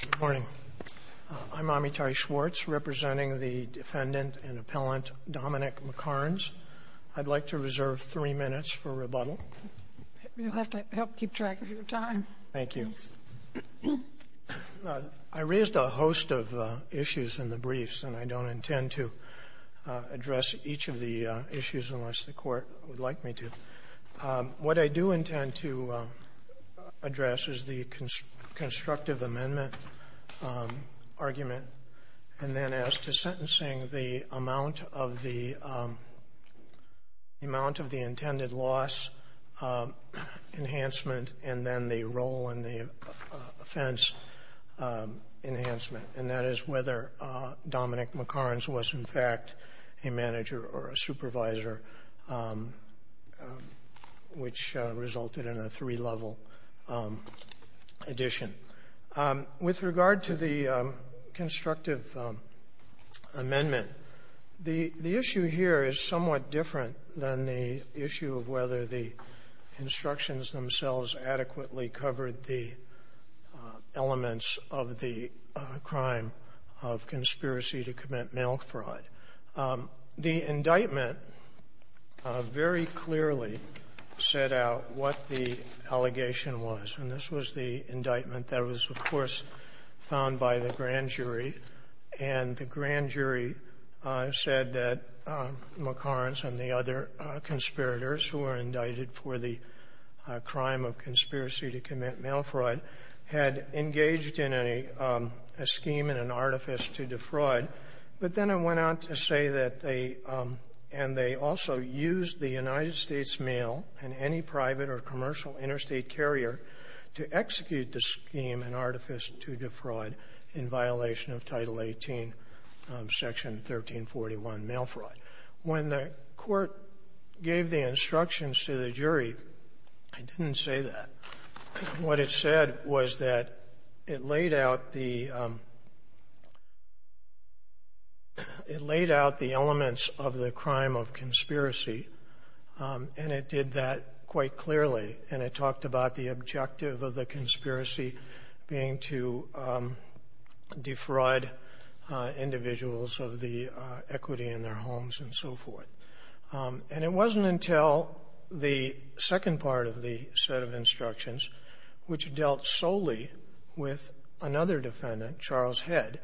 Good morning. I'm Amitai Schwartz, representing the defendant and appellant Domonic McCarns. I'd like to reserve three minutes for rebuttal. You'll have to help keep track of your time. Thank you. I raised a host of issues in the briefs, and I don't intend to address each of the issues unless the court would like me to. What I do intend to address is the constructive amendment argument, and then as to sentencing, the amount of the intended loss enhancement and then the role and the offense enhancement, and that is whether Dominic McCarns was, in fact, a manager or a supervisor, which resulted in a three-level addition. With regard to the constructive amendment, the issue here is somewhat different than the issue of whether the instructions themselves adequately covered the elements of the crime of conspiracy to commit mail fraud. The indictment very clearly set out what the allegation was, and this was the indictment that was, of course, found by the grand jury. And the grand jury said that McCarns and the other conspirators who were indicted for the crime of conspiracy to commit mail fraud had engaged in a scheme and an artifice to defraud. But then it went on to say that they also used the United States Mail and any private or commercial interstate carrier to execute the scheme and artifice to defraud in violation of Title 18, Section 1341, mail fraud. When the Court gave the instructions to the jury, it didn't say that. What it said was that it laid out the elements of the crime of conspiracy, and it did that quite clearly, and it talked about the objective of the conspiracy being to defraud individuals of the equity in their homes and so forth. And it wasn't until the second part of the set of instructions, which dealt solely with another defendant, Charles Head,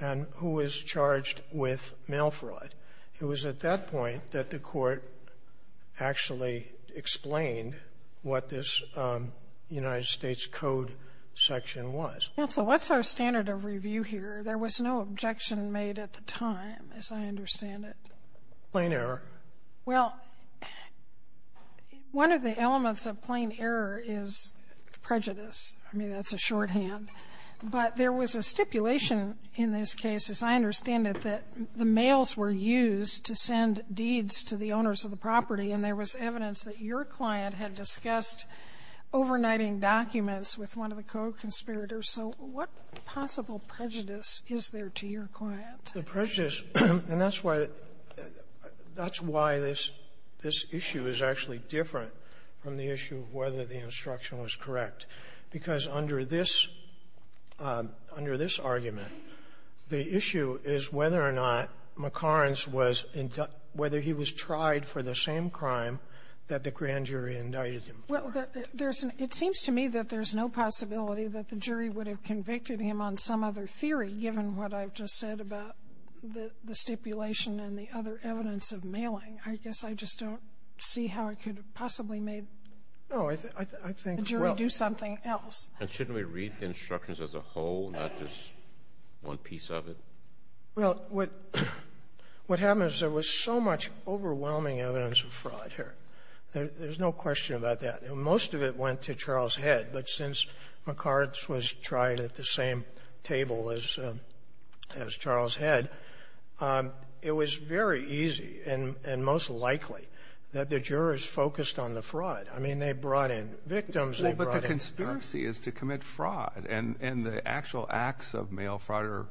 and who was charged with mail fraud. It was at that point that the Court actually explained what this United States Code section was. Sotomayor, what's our standard of review here? There was no objection made at the time, as I understand it. Plain error. Well, one of the elements of plain error is prejudice. I mean, that's a shorthand. But there was a stipulation in this case, as I understand it, that the mails were used to send deeds to the owners of the property, and there was evidence that your client had discussed overnighting documents with one of the pro-conspirators. So what possible prejudice is there to your client? The prejudice, and that's why this issue is actually different from the issue of whether the instruction was correct, because under this argument, the issue is whether or not McCarns was inducted, whether he was tried for the same crime that the grand jury indicted him for. Well, there's an — it seems to me that there's no possibility that the jury would have convicted him on some other theory, given what I've just said about the stipulation and the other evidence of mailing. I guess I just don't see how it could possibly No, I think — well, shouldn't we read the instructions as a whole, not just one piece of it? Well, what happens is there was so much overwhelming evidence of fraud here. There's no question about that. Most of it went to Charles Head, but since McCarns was tried at the same table as Charles Head, it was very easy and most likely that the jurors focused on the fraud. I mean, they brought in victims. Well, but the conspiracy is to commit fraud. And the actual acts of mail fraud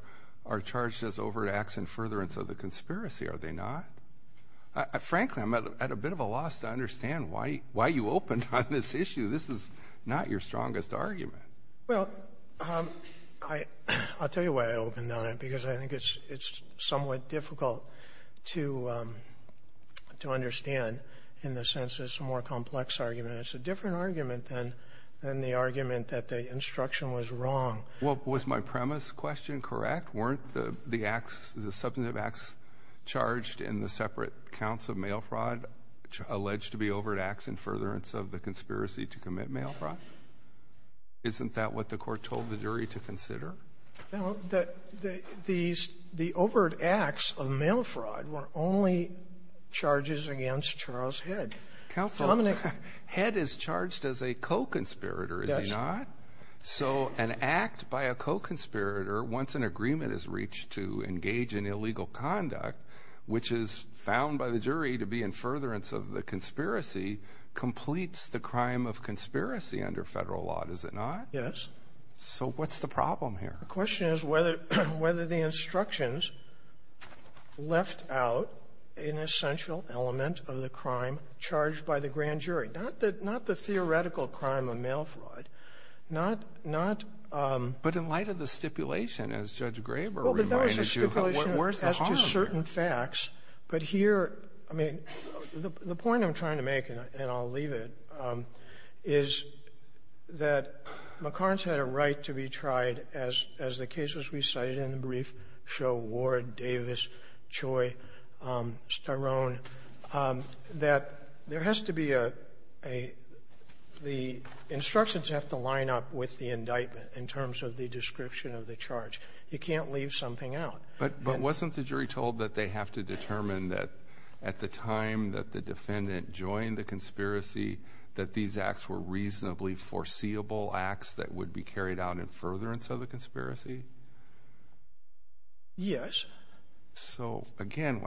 are charged as overt acts in furtherance of the conspiracy, are they not? Frankly, I'm at a bit of a loss to understand why you opened on this issue. This is not your strongest argument. Well, I'll tell you why I opened on it, because I think it's somewhat difficult to understand in the sense that it's a more complex argument. It's a different argument than the argument that the instruction was wrong. Well, was my premise question correct? Weren't the acts, the substantive acts charged in the separate counts of mail fraud alleged to be overt acts in furtherance of the conspiracy to commit mail fraud? Isn't that what the Court told the jury to consider? No. The overt acts of mail fraud were only charges against Charles Head. Counsel, Head is charged as a co-conspirator, is he not? Yes. So an act by a co-conspirator, once an agreement is reached to engage in illegal conduct, which is found by the jury to be in furtherance of the conspiracy, completes the crime of conspiracy under Federal law, does it not? Yes. So what's the problem here? The question is whether the instructions left out an essential element of the crime charged by the grand jury, not the theoretical crime of mail fraud, not the real crime. But in light of the stipulation, as Judge Graber reminded you, what was the harm? Well, there's a stipulation as to certain facts, but here, I mean, the point I'm trying to make, and I'll leave it, is that McCarn's had a right to be tried as the case was But there has to be a the instructions have to line up with the indictment in terms of the description of the charge. You can't leave something out. But wasn't the jury told that they have to determine that at the time that the defendant joined the conspiracy, that these acts were reasonably foreseeable acts that would be carried out in furtherance of the conspiracy? Yes. So, again,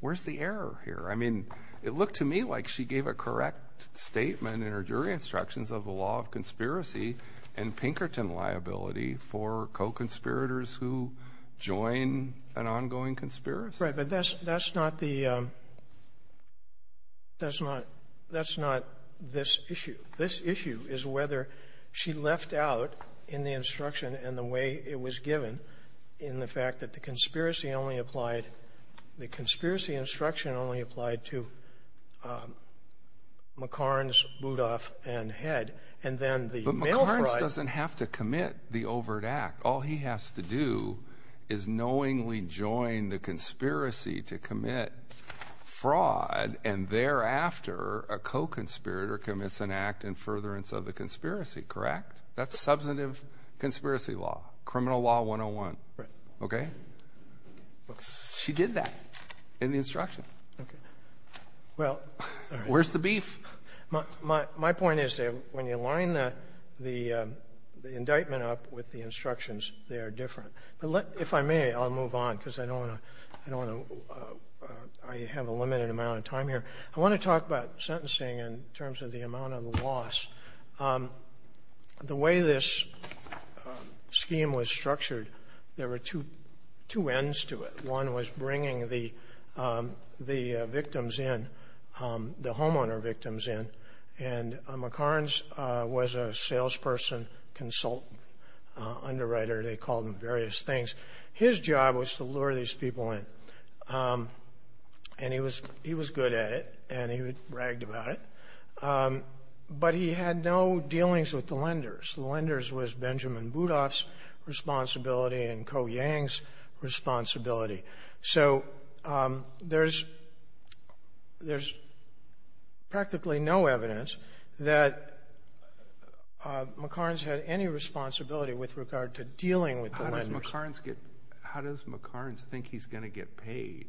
where's the error here? I mean, it looked to me like she gave a correct statement in her jury instructions of the law of conspiracy and Pinkerton liability for co-conspirators who join an ongoing conspiracy. Right. But that's not the – that's not – that's not this issue. This issue is whether she left out in the instruction and the way it was given in the The conspiracy only applied – the conspiracy instruction only applied to McCarn's, Boudoff, and Head. And then the mail fraud – But McCarn's doesn't have to commit the overt act. All he has to do is knowingly join the conspiracy to commit fraud, and thereafter a co-conspirator commits an act in furtherance of the conspiracy, correct? That's substantive conspiracy law, Criminal Law 101. Right. Okay? She did that in the instructions. Okay. Well, all right. Where's the beef? My point is that when you line the indictment up with the instructions, they are different. But let – if I may, I'll move on because I don't want to – I don't want to – I have a limited amount of time here. I want to talk about sentencing in terms of the amount of the loss. The way this scheme was structured, there were two – two ends to it. One was bringing the victims in, the homeowner victims in, and McCarn's was a salesperson, consultant, underwriter. They called him various things. His job was to lure these people in. And he was – he was good at it, and he bragged about it. But he had no dealings with the lenders. The lenders was Benjamin Budoff's responsibility and Ko Yang's responsibility. So there's – there's practically no evidence that McCarn's had any responsibility with regard to dealing with the lenders. How does McCarn's get – how does McCarn's think he's going to get paid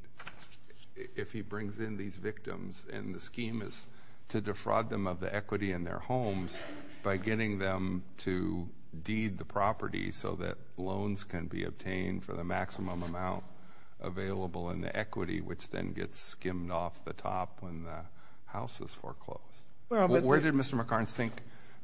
if he brings in these victims and the scheme is to defraud them of the equity in their homes by getting them to deed the property so that loans can be obtained for the maximum amount available in the equity, which then gets skimmed off the top when the house is foreclosed? Where did Mr. McCarn's think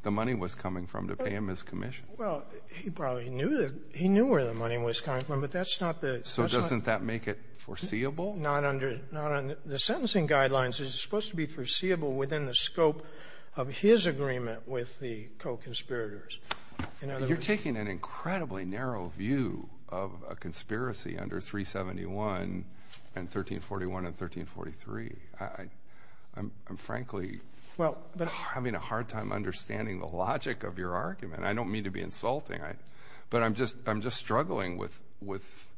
the money was coming from to pay him his commission? Well, he probably knew the – he knew where the money was coming from, but that's not the – So doesn't that make it foreseeable? Not under – not under – the sentencing guidelines is supposed to be foreseeable within the scope of his agreement with the co-conspirators. In other words – You're taking an incredibly narrow view of a conspiracy under 371 and 1341 and 1343. I'm – I'm frankly having a hard time understanding the logic of your argument. I don't mean to be insulting, but I'm just – I'm just struggling with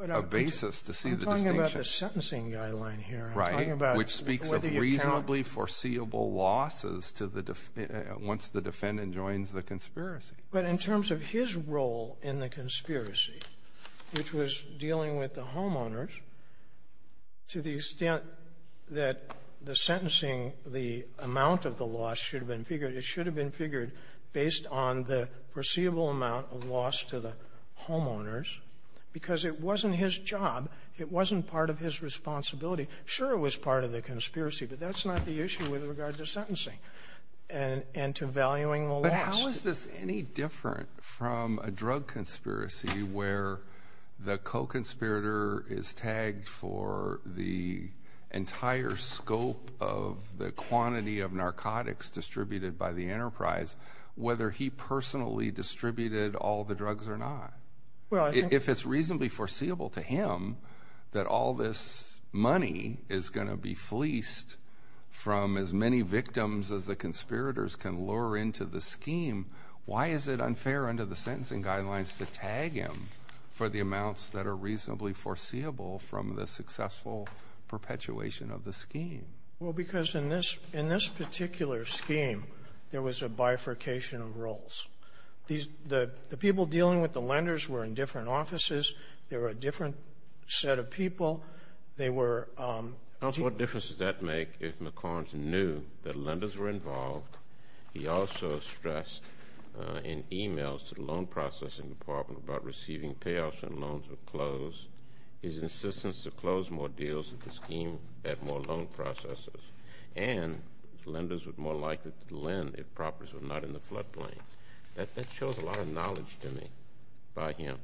a basis to see the distinction. I'm not talking about the sentencing guideline here. I'm talking about whether you can't – Right, which speaks of reasonably foreseeable losses to the – once the defendant joins the conspiracy. But in terms of his role in the conspiracy, which was dealing with the homeowners, to the extent that the sentencing, the amount of the loss should have been figured, it should have been figured based on the foreseeable amount of loss to the homeowners because it wasn't his job. It wasn't part of his responsibility. Sure it was part of the conspiracy, but that's not the issue with regard to sentencing and to valuing the loss. But how is this any different from a drug conspiracy where the co-conspirator is tagged for the entire scope of the quantity of narcotics distributed by the enterprise, whether he personally distributed all the drugs or not? Well, I think – If it's reasonably foreseeable to him that all this money is going to be fleeced from as many victims as the conspirators can lure into the scheme, why is it unfair under the sentencing guidelines to tag him for the amounts that are reasonably foreseeable from the successful perpetuation of the scheme? Well, because in this – in this particular scheme, there was a bifurcation of roles. These – the people dealing with the lenders were in different offices. There were a different set of people. They were – Counsel, what difference does that make if McCormick knew that lenders were involved? He also stressed in emails to the loan processing department about receiving payoffs when loans were closed, his insistence to close more deals if the scheme had more loan processors, and lenders were more likely to lend if properties were not in the floodplain. That shows a lot of knowledge to me by him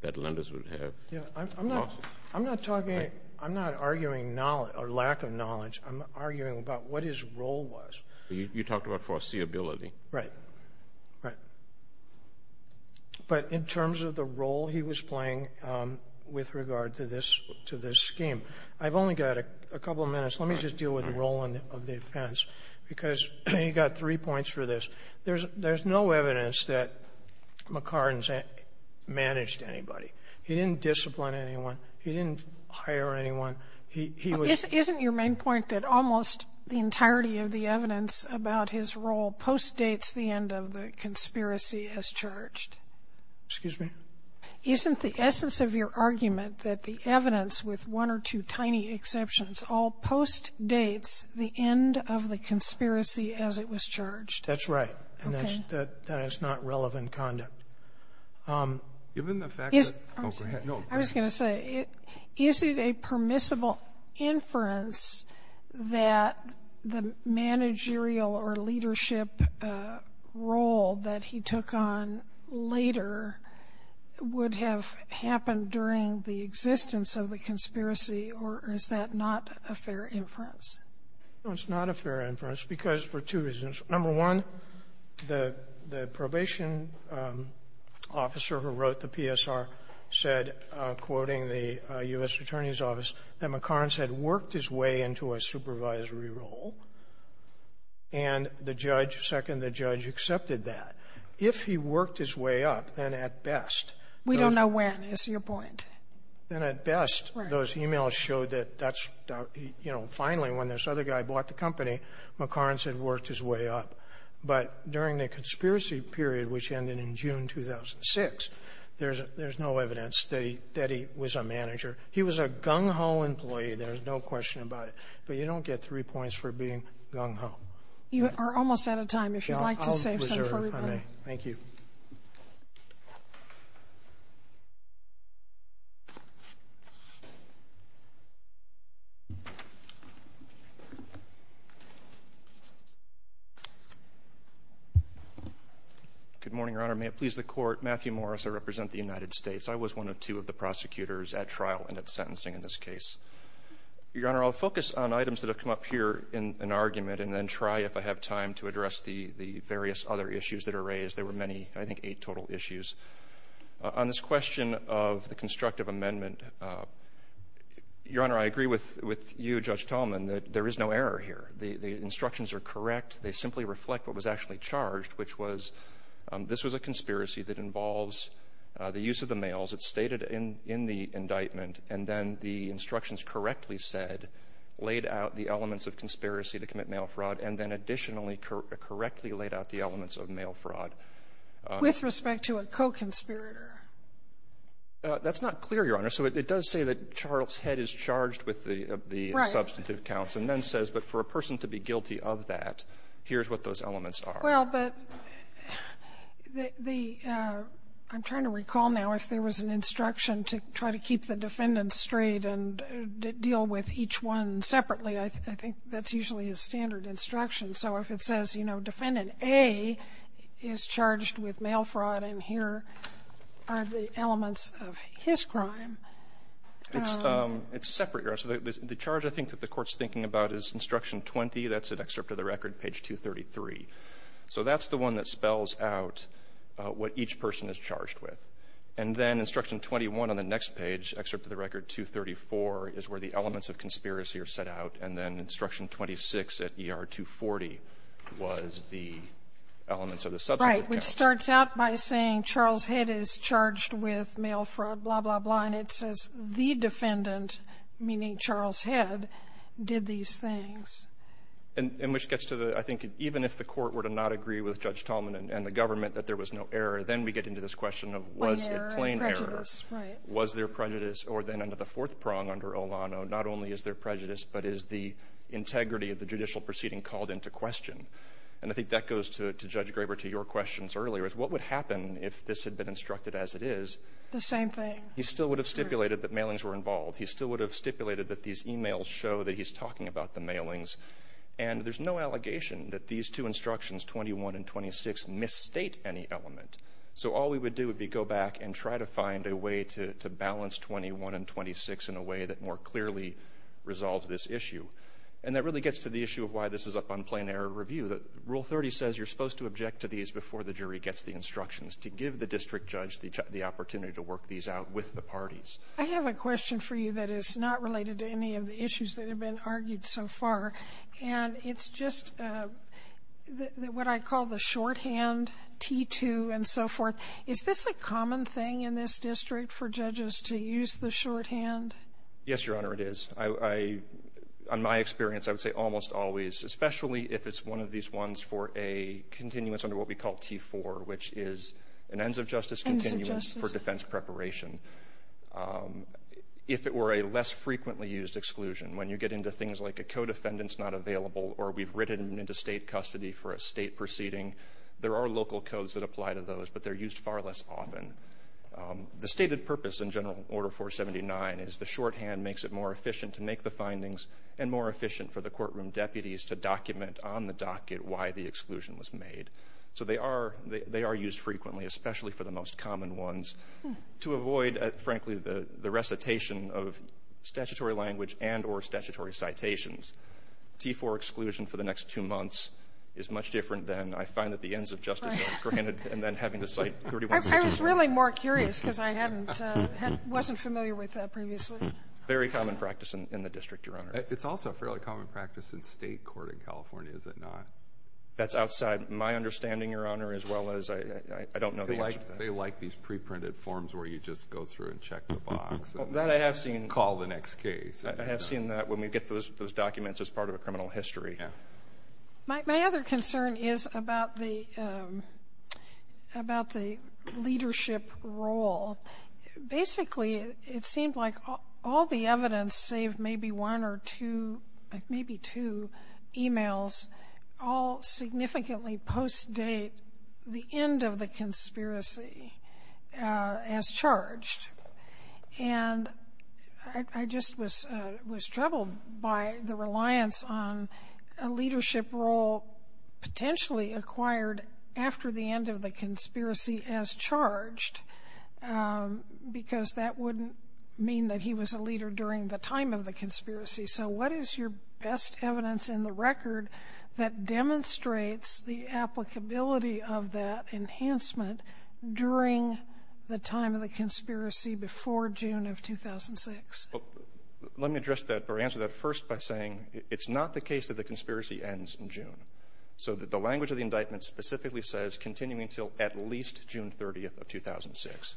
that lenders would have losses. Yeah, I'm not – I'm not talking – I'm not arguing knowledge or lack of knowledge. I'm arguing about what his role was. You talked about foreseeability. Right, right. But in terms of the role he was playing with regard to this – to this scheme, I've only got a couple of minutes. Let me just deal with the role of the defense, because you got three points for this. There's no evidence that McCardin's managed anybody. He didn't discipline anyone. He didn't hire anyone. He was – Isn't your main point that almost the entirety of the evidence about his role postdates the end of the conspiracy as charged? Excuse me? Isn't the essence of your argument that the evidence, with one or two tiny exceptions, all postdates the end of the conspiracy as it was charged? That's right. Okay. And that's – that's not relevant conduct. Given the fact that – oh, go ahead. No, go ahead. I was going to say, is it a permissible inference that the managerial or leadership role that he took on later would have happened during the existence of the conspiracy, or is that not a fair inference? No, it's not a fair inference, because for two reasons. Number one, the – the probation officer who wrote the PSR said, quoting the U.S. Attorney's Office, that McCardin had worked his way into a supervisory role. And the judge – second, the judge accepted that. If he worked his way up, then at best – We don't know when, is your point. Then at best, those e-mails showed that that's – you know, finally, when this other guy bought the company, McCardin had worked his way up. But during the conspiracy period, which ended in June 2006, there's – there's no evidence that he – that he was a manager. He was a gung-ho employee. There's no question about it. But you don't get three points for being gung-ho. You are almost out of time. If you'd like to save some for me, please. I'll reserve. I may. Thank you. Good morning, Your Honor. May it please the Court. Matthew Morris. I represent the United States. I was one of two of the prosecutors at trial and at sentencing in this case. Your Honor, I'll focus on items that have come up here in an argument and then try, if I have time, to address the – the various other issues that are raised. There were many, I think, eight total issues. On this question of the constructive amendment, Your Honor, I agree with – with you, Judge Tallman, that there is no error here. The – the instructions are correct. They simply reflect what was actually charged, which was this was a conspiracy that involves the use of the mails. It's stated in – in the indictment. And then the instructions correctly said, laid out the elements of conspiracy to commit mail fraud, and then additionally correctly laid out the elements of mail fraud. With respect to a co-conspirator? That's not clear, Your Honor. So it does say that Charles Head is charged with the – the substantive counts. Right. And then says, but for a person to be guilty of that, here's what those elements are. Well, but the – I'm trying to recall now if there was an instruction to try to keep the defendant straight and deal with each one separately. I think that's usually a standard instruction. So if it says, you know, Defendant A is charged with mail fraud, and here are the elements of his crime. It's – it's separate, Your Honor. So the charge, I think, that the Court's thinking about is Instruction 20. That's an excerpt of the record, page 233. So that's the one that spells out what each person is charged with. And then Instruction 21 on the next page, excerpt of the record 234, is where the elements of conspiracy are set out, and then Instruction 26 at ER 240 was the elements of the substantive counts. Right. Which starts out by saying Charles Head is charged with mail fraud, blah, blah, blah. And it says the defendant, meaning Charles Head, did these things. And which gets to the, I think, even if the Court were to not agree with Judge Tolman and the government that there was no error, then we get into this question of was it plain error. Right. Was there prejudice? Or then under the fourth prong under Olano, not only is there prejudice, but is the integrity of the judicial proceeding called into question? And I think that goes to Judge Graber to your questions earlier, is what would happen if this had been instructed as it is? The same thing. He still would have stipulated that mailings were involved. He still would have stipulated that these e-mails show that he's talking about the mailings. And there's no allegation that these two instructions, 21 and 26, misstate any element. So all we would do would be go back and try to find a way to balance 21 and 26 in a way that more clearly resolves this issue. And that really gets to the issue of why this is up on plain error review. Rule 30 says you're supposed to object to these before the jury gets the instructions to give the district judge the opportunity to work these out with the parties. I have a question for you that is not related to any of the issues that have been raised so far, and it's just what I call the shorthand, T-2 and so forth. Is this a common thing in this district for judges to use the shorthand? Yes, Your Honor, it is. I — on my experience, I would say almost always, especially if it's one of these ones for a continuance under what we call T-4, which is an ends-of-justice continuance for defense preparation. If it were a less frequently used exclusion, when you get into things like a code offendance not available or we've written into State custody for a State proceeding, there are local codes that apply to those, but they're used far less often. The stated purpose in General Order 479 is the shorthand makes it more efficient to make the findings and more efficient for the courtroom deputies to document on the docket why the exclusion was made. So they are — they are used frequently, especially for the most common ones, to avoid, frankly, the recitation of statutory language and or statutory citations. T-4 exclusion for the next two months is much different than I find that the ends-of-justice is granted and then having to cite 31 sections. I was really more curious because I hadn't — wasn't familiar with that previously. Very common practice in the district, Your Honor. It's also a fairly common practice in State court in California, is it not? That's outside my understanding, Your Honor, as well as I don't know the rest of them. They like these preprinted forms where you just go through and check the box. That I have seen. Call the next case. I have seen that when we get those documents as part of a criminal history. Yeah. My other concern is about the — about the leadership role. Basically, it seemed like all the evidence, save maybe one or two — maybe two emails, all significantly post-date the end of the conspiracy as charged. And I just was — was troubled by the reliance on a leadership role potentially acquired after the end of the conspiracy as charged because that wouldn't mean that he was a leader during the time of the conspiracy. So what is your best evidence in the record that demonstrates the applicability of that enhancement during the time of the conspiracy before June of 2006? Well, let me address that or answer that first by saying it's not the case that the conspiracy ends in June. So the language of the indictment specifically says continuing until at least June 30th of 2006.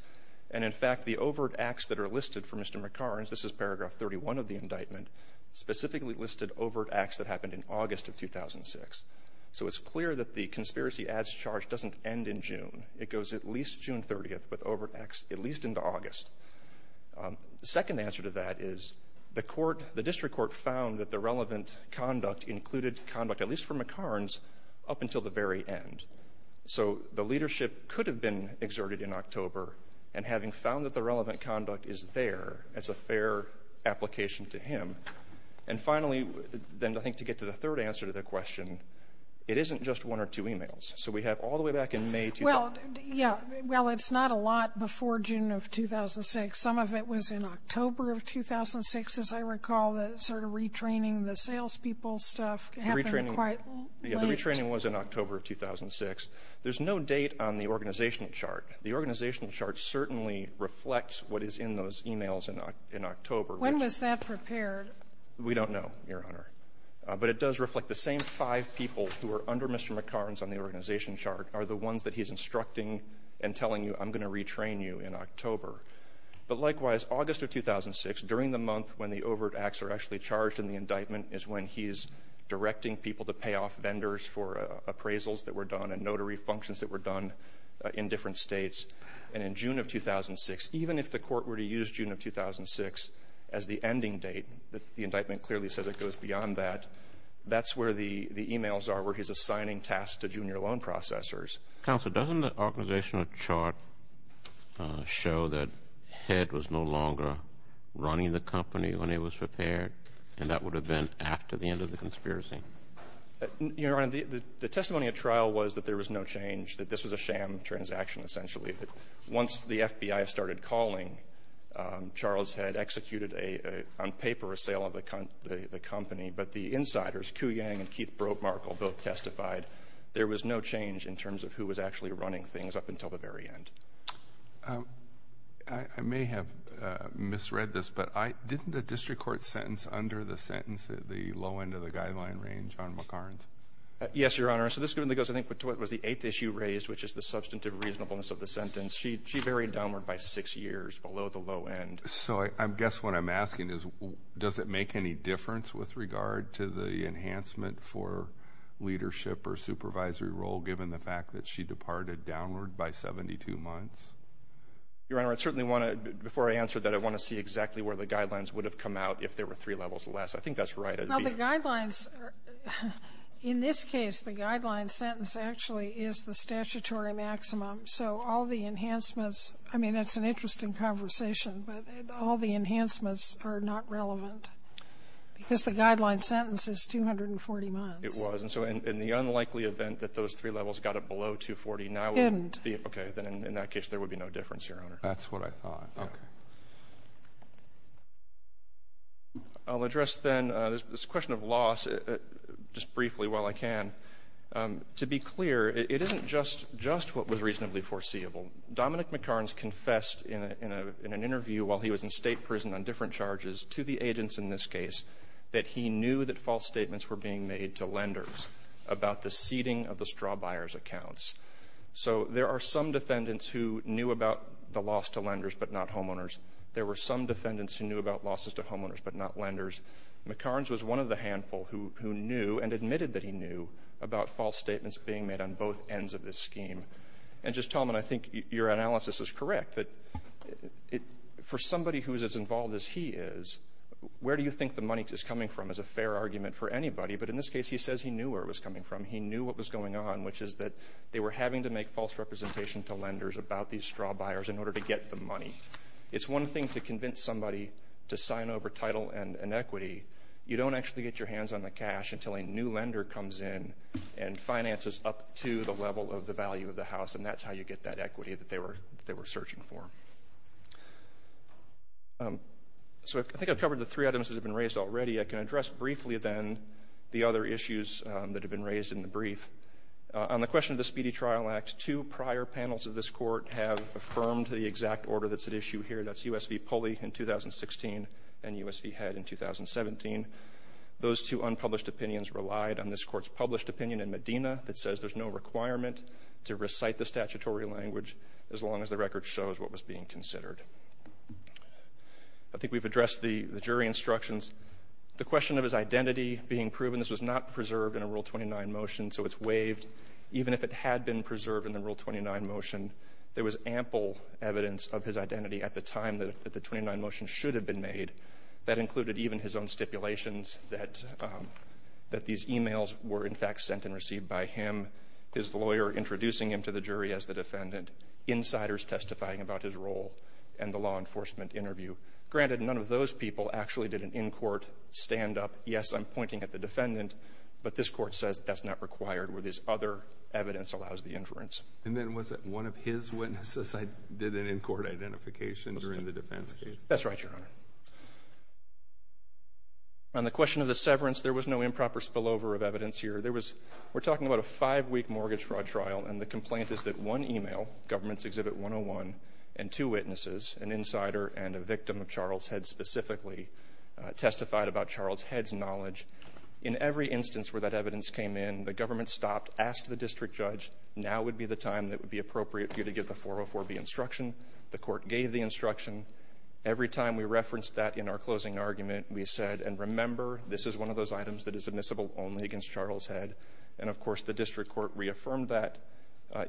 And, in fact, the overt acts that are listed for Mr. McCarns — this is paragraph 31 of the indictment — specifically listed overt acts that happened in August of 2006. So it's clear that the conspiracy as charged doesn't end in June. It goes at least June 30th with overt acts at least into August. The second answer to that is the court — the district court found that the relevant conduct included conduct, at least for McCarns, up until the very end. So the leadership could have been exerted in October. And having found that the relevant conduct is there, it's a fair application to him. And finally, then I think to get to the third answer to the question, it isn't just one or two e-mails. So we have all the way back in May — Well, yeah, well, it's not a lot before June of 2006. Some of it was in October of 2006, as I recall, that sort of retraining the salespeople stuff happened quite late. Yeah, the retraining was in October of 2006. There's no date on the organizational chart. The organizational chart certainly reflects what is in those e-mails in October. When was that prepared? We don't know, Your Honor. But it does reflect the same five people who are under Mr. McCarns on the organization chart are the ones that he's instructing and telling you, I'm going to retrain you in October. But likewise, August of 2006, during the month when the overt acts are actually charged and the indictment is when he's directing people to pay off vendors for appraisals that were done and notary functions that were done in different states, and in June of 2006, even if the court were to use June of 2006 as the ending date, the indictment clearly says it goes beyond that, that's where the e-mails are where he's assigning tasks to junior loan processors. Counsel, doesn't the organizational chart show that Head was no longer running the company when it was prepared and that would have been after the end of the conspiracy? Your Honor, the testimony at trial was that there was no change, that this was a sham transaction, essentially. Once the FBI started calling, Charles had executed a — on paper, a sale of the company. But the insiders, Ku Yang and Keith Brodmarkle, both testified there was no change in terms of who was actually running things up until the very end. I may have misread this, but I — didn't the district court sentence under the sentence at the low end of the guideline range on McCarns? Yes, Your Honor. So this goes, I think, to what was the eighth issue raised, which is the substantive reasonableness of the sentence. She varied downward by six years below the low end. So I guess what I'm asking is, does it make any difference with regard to the enhancement for leadership or supervisory role, given the fact that she departed downward by 72 months? Your Honor, I certainly want to — before I answer that, I want to see exactly where the guidelines would have come out if there were three levels less. I think that's right. Well, the guidelines — in this case, the guideline sentence actually is the statutory maximum. So all the enhancements — I mean, that's an interesting conversation, but all the enhancements are not relevant, because the guideline sentence is 240 months. It was. And so in the unlikely event that those three levels got it below 240, now it would be — It didn't. Okay. Then in that case, there would be no difference, Your Honor. That's what I thought. Okay. Thank you. Thank you. Thank you. Thank you. I'll address then this question of loss just briefly while I can. To be clear, it isn't just what was reasonably foreseeable. Dominic McCarns confessed in an interview while he was in State prison on different charges to the agents in this case that he knew that false statements were being made to lenders about the seeding of the straw buyer's accounts. So there are some defendants who knew about the loss to lenders but not homeowners. There were some defendants who knew about losses to homeowners but not lenders. McCarns was one of the handful who knew and admitted that he knew about false statements being made on both ends of this scheme. And just, Tom, and I think your analysis is correct, that for somebody who is as involved as he is, where do you think the money is coming from is a fair argument for anybody. But in this case, he says he knew where it was coming from. He knew what was going on, which is that they were having to make false representation to lenders about these straw buyers in order to get the money. It's one thing to convince somebody to sign over title and equity. You don't actually get your hands on the cash until a new lender comes in and finances up to the level of the value of the house, and that's how you get that equity that they were searching for. So I think I've covered the three items that have been raised already. I can address briefly, then, the other issues that have been raised in the brief. On the question of the Speedy Trial Act, two prior panels of this Court have affirmed the exact order that's at issue here. That's U.S. v. Pulley in 2016 and U.S. v. Head in 2017. Those two unpublished opinions relied on this Court's published opinion in Medina that says there's no requirement to recite the statutory language as long as the record shows what was being considered. I think we've addressed the jury instructions. The question of his identity being proven, this was not preserved in a Rule 29 motion, so it's waived. Even if it had been preserved in the Rule 29 motion, there was ample evidence of his identity at the time that the 29 motion should have been made. That included even his own stipulations that these e-mails were, in fact, sent and received by him, his lawyer introducing him to the jury as the defendant, insiders testifying about his role, and the law enforcement interview. Granted, none of those people actually did an in-court stand-up. Yes, I'm pointing at the defendant, but this Court says that's not required where this other evidence allows the inference. And then was it one of his witnesses did an in-court identification during the defense case? That's right, Your Honor. On the question of the severance, there was no improper spillover of evidence here. There was we're talking about a five-week mortgage fraud trial, and the complaint is that one e-mail, Government's Exhibit 101, and two witnesses, an insider and a victim of Charles Head specifically, testified about Charles Head's knowledge. In every instance where that evidence came in, the government stopped, asked the district judge, now would be the time that would be appropriate for you to give the 404B instruction. The Court gave the instruction. Every time we referenced that in our closing argument, we said, and remember, this is one of those items that is admissible only against Charles Head. And, of course, the district court reaffirmed that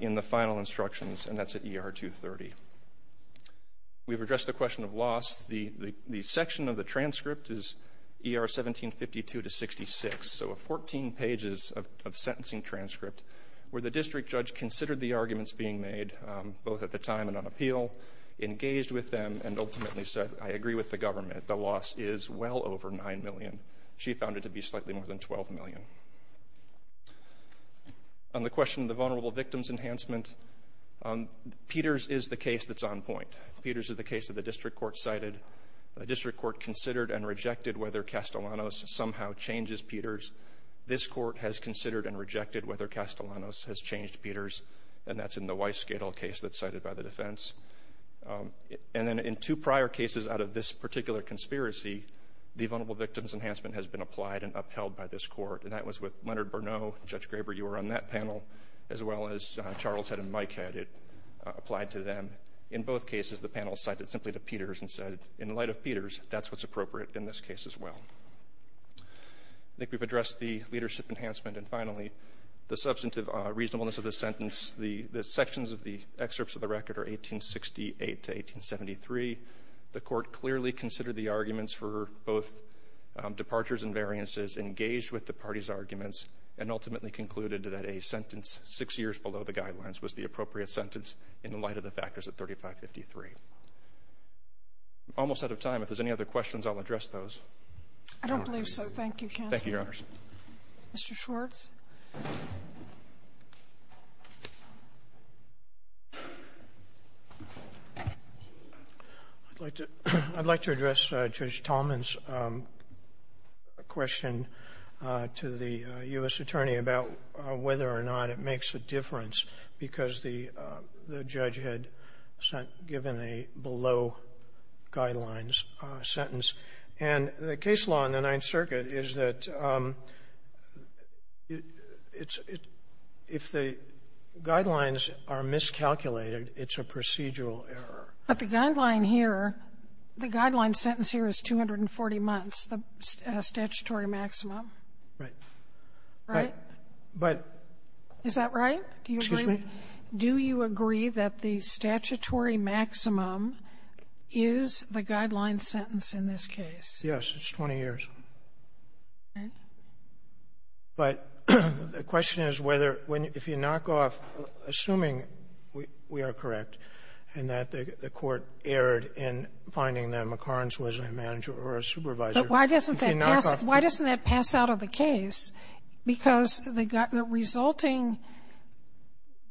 in the final instructions, and that's at ER 230. We've addressed the question of loss. The section of the transcript is ER 1752 to 66, so 14 pages of sentencing transcript where the district judge considered the arguments being made, both at the time and on appeal, engaged with them, and ultimately said, I agree with the government. The loss is well over 9 million. She found it to be slightly more than 12 million. On the question of the vulnerable victims enhancement, Peters is the case that's on point. Peters is the case that the district court cited. The district court considered and rejected whether Castellanos somehow changes Peters. This court has considered and rejected whether Castellanos has changed Peters, and that's in the Weiss-Gadel case that's cited by the defense. And then in two prior cases out of this particular conspiracy, the vulnerable victims enhancement has been applied and upheld by this court, and that was with Leonard Bernot. Judge Graber, you were on that panel, as well as Charles Head and Mike Head. It applied to them. In both cases, the panel cited simply to Peters and said, in light of Peters, that's what's appropriate in this case as well. I think we've addressed the leadership enhancement, and finally, the substantive reasonableness of the sentence. The sections of the excerpts of the record are 1868 to 1873. The court clearly considered the arguments for both departures and variances, engaged with the parties' arguments, and ultimately concluded that a sentence six years below the guidelines was the appropriate sentence in the light of the factors of 3553. Almost out of time. If there's any other questions, I'll address those. I don't believe so. Thank you, Counsel. Thank you, Your Honors. Mr. Schwartz. I'd like to address Judge Tallman's question to the U.S. attorney about whether or not it makes a difference because the judge had given a below-guidelines sentence. And the case law in the Ninth Circuit is that if the guidelines are miscalculated, it's a procedural error. But the guideline here, the guideline sentence here is 240 months, the statutory maximum. Right. Right? But — Is that right? Excuse me? Do you agree that the statutory maximum is the guideline sentence in this case? Yes. It's 20 years. Right. But the question is whether, if you knock off, assuming we are correct and that the court erred in finding that McCarns was a manager or a supervisor, if you knock off — But why doesn't that pass out of the case? Because the resulting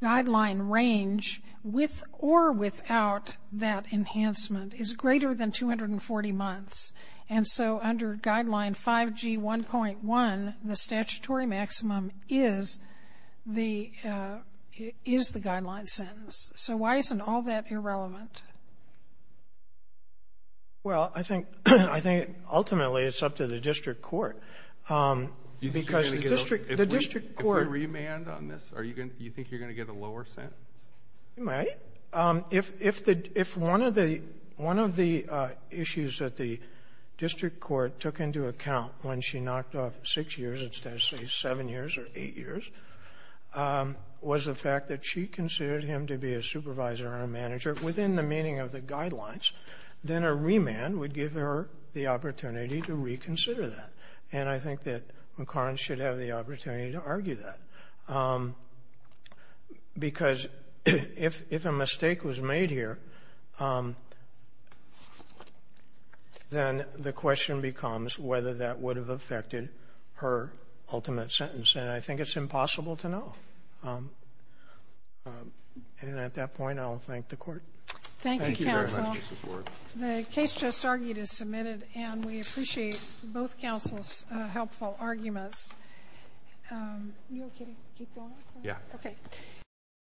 guideline range, with or without that enhancement, is greater than 240 months. And so under Guideline 5G1.1, the statutory maximum is the guideline sentence. So why isn't all that irrelevant? Well, I think — I think ultimately it's up to the district court. Because the district — the district court — If we remand on this, are you going to — do you think you're going to get a lower sentence? You might. If the — if one of the — one of the issues that the district court took into account when she knocked off 6 years, instead of, say, 7 years or 8 years, was the fact that she considered him to be a supervisor or a manager, within the meaning of the guidelines, then a remand would give her the opportunity to reconsider that. And I think that McCarns should have the opportunity to argue that, because if — if a mistake was made here, then the question becomes whether that would have affected her ultimate sentence. And I think it's impossible to know. And at that point, I'll thank the Court. Thank you, counsel. Thank you very much, Justice Ward. The case just argued is submitted, and we appreciate both counsel's helpful arguments. You okay to keep going? Yeah. Okay.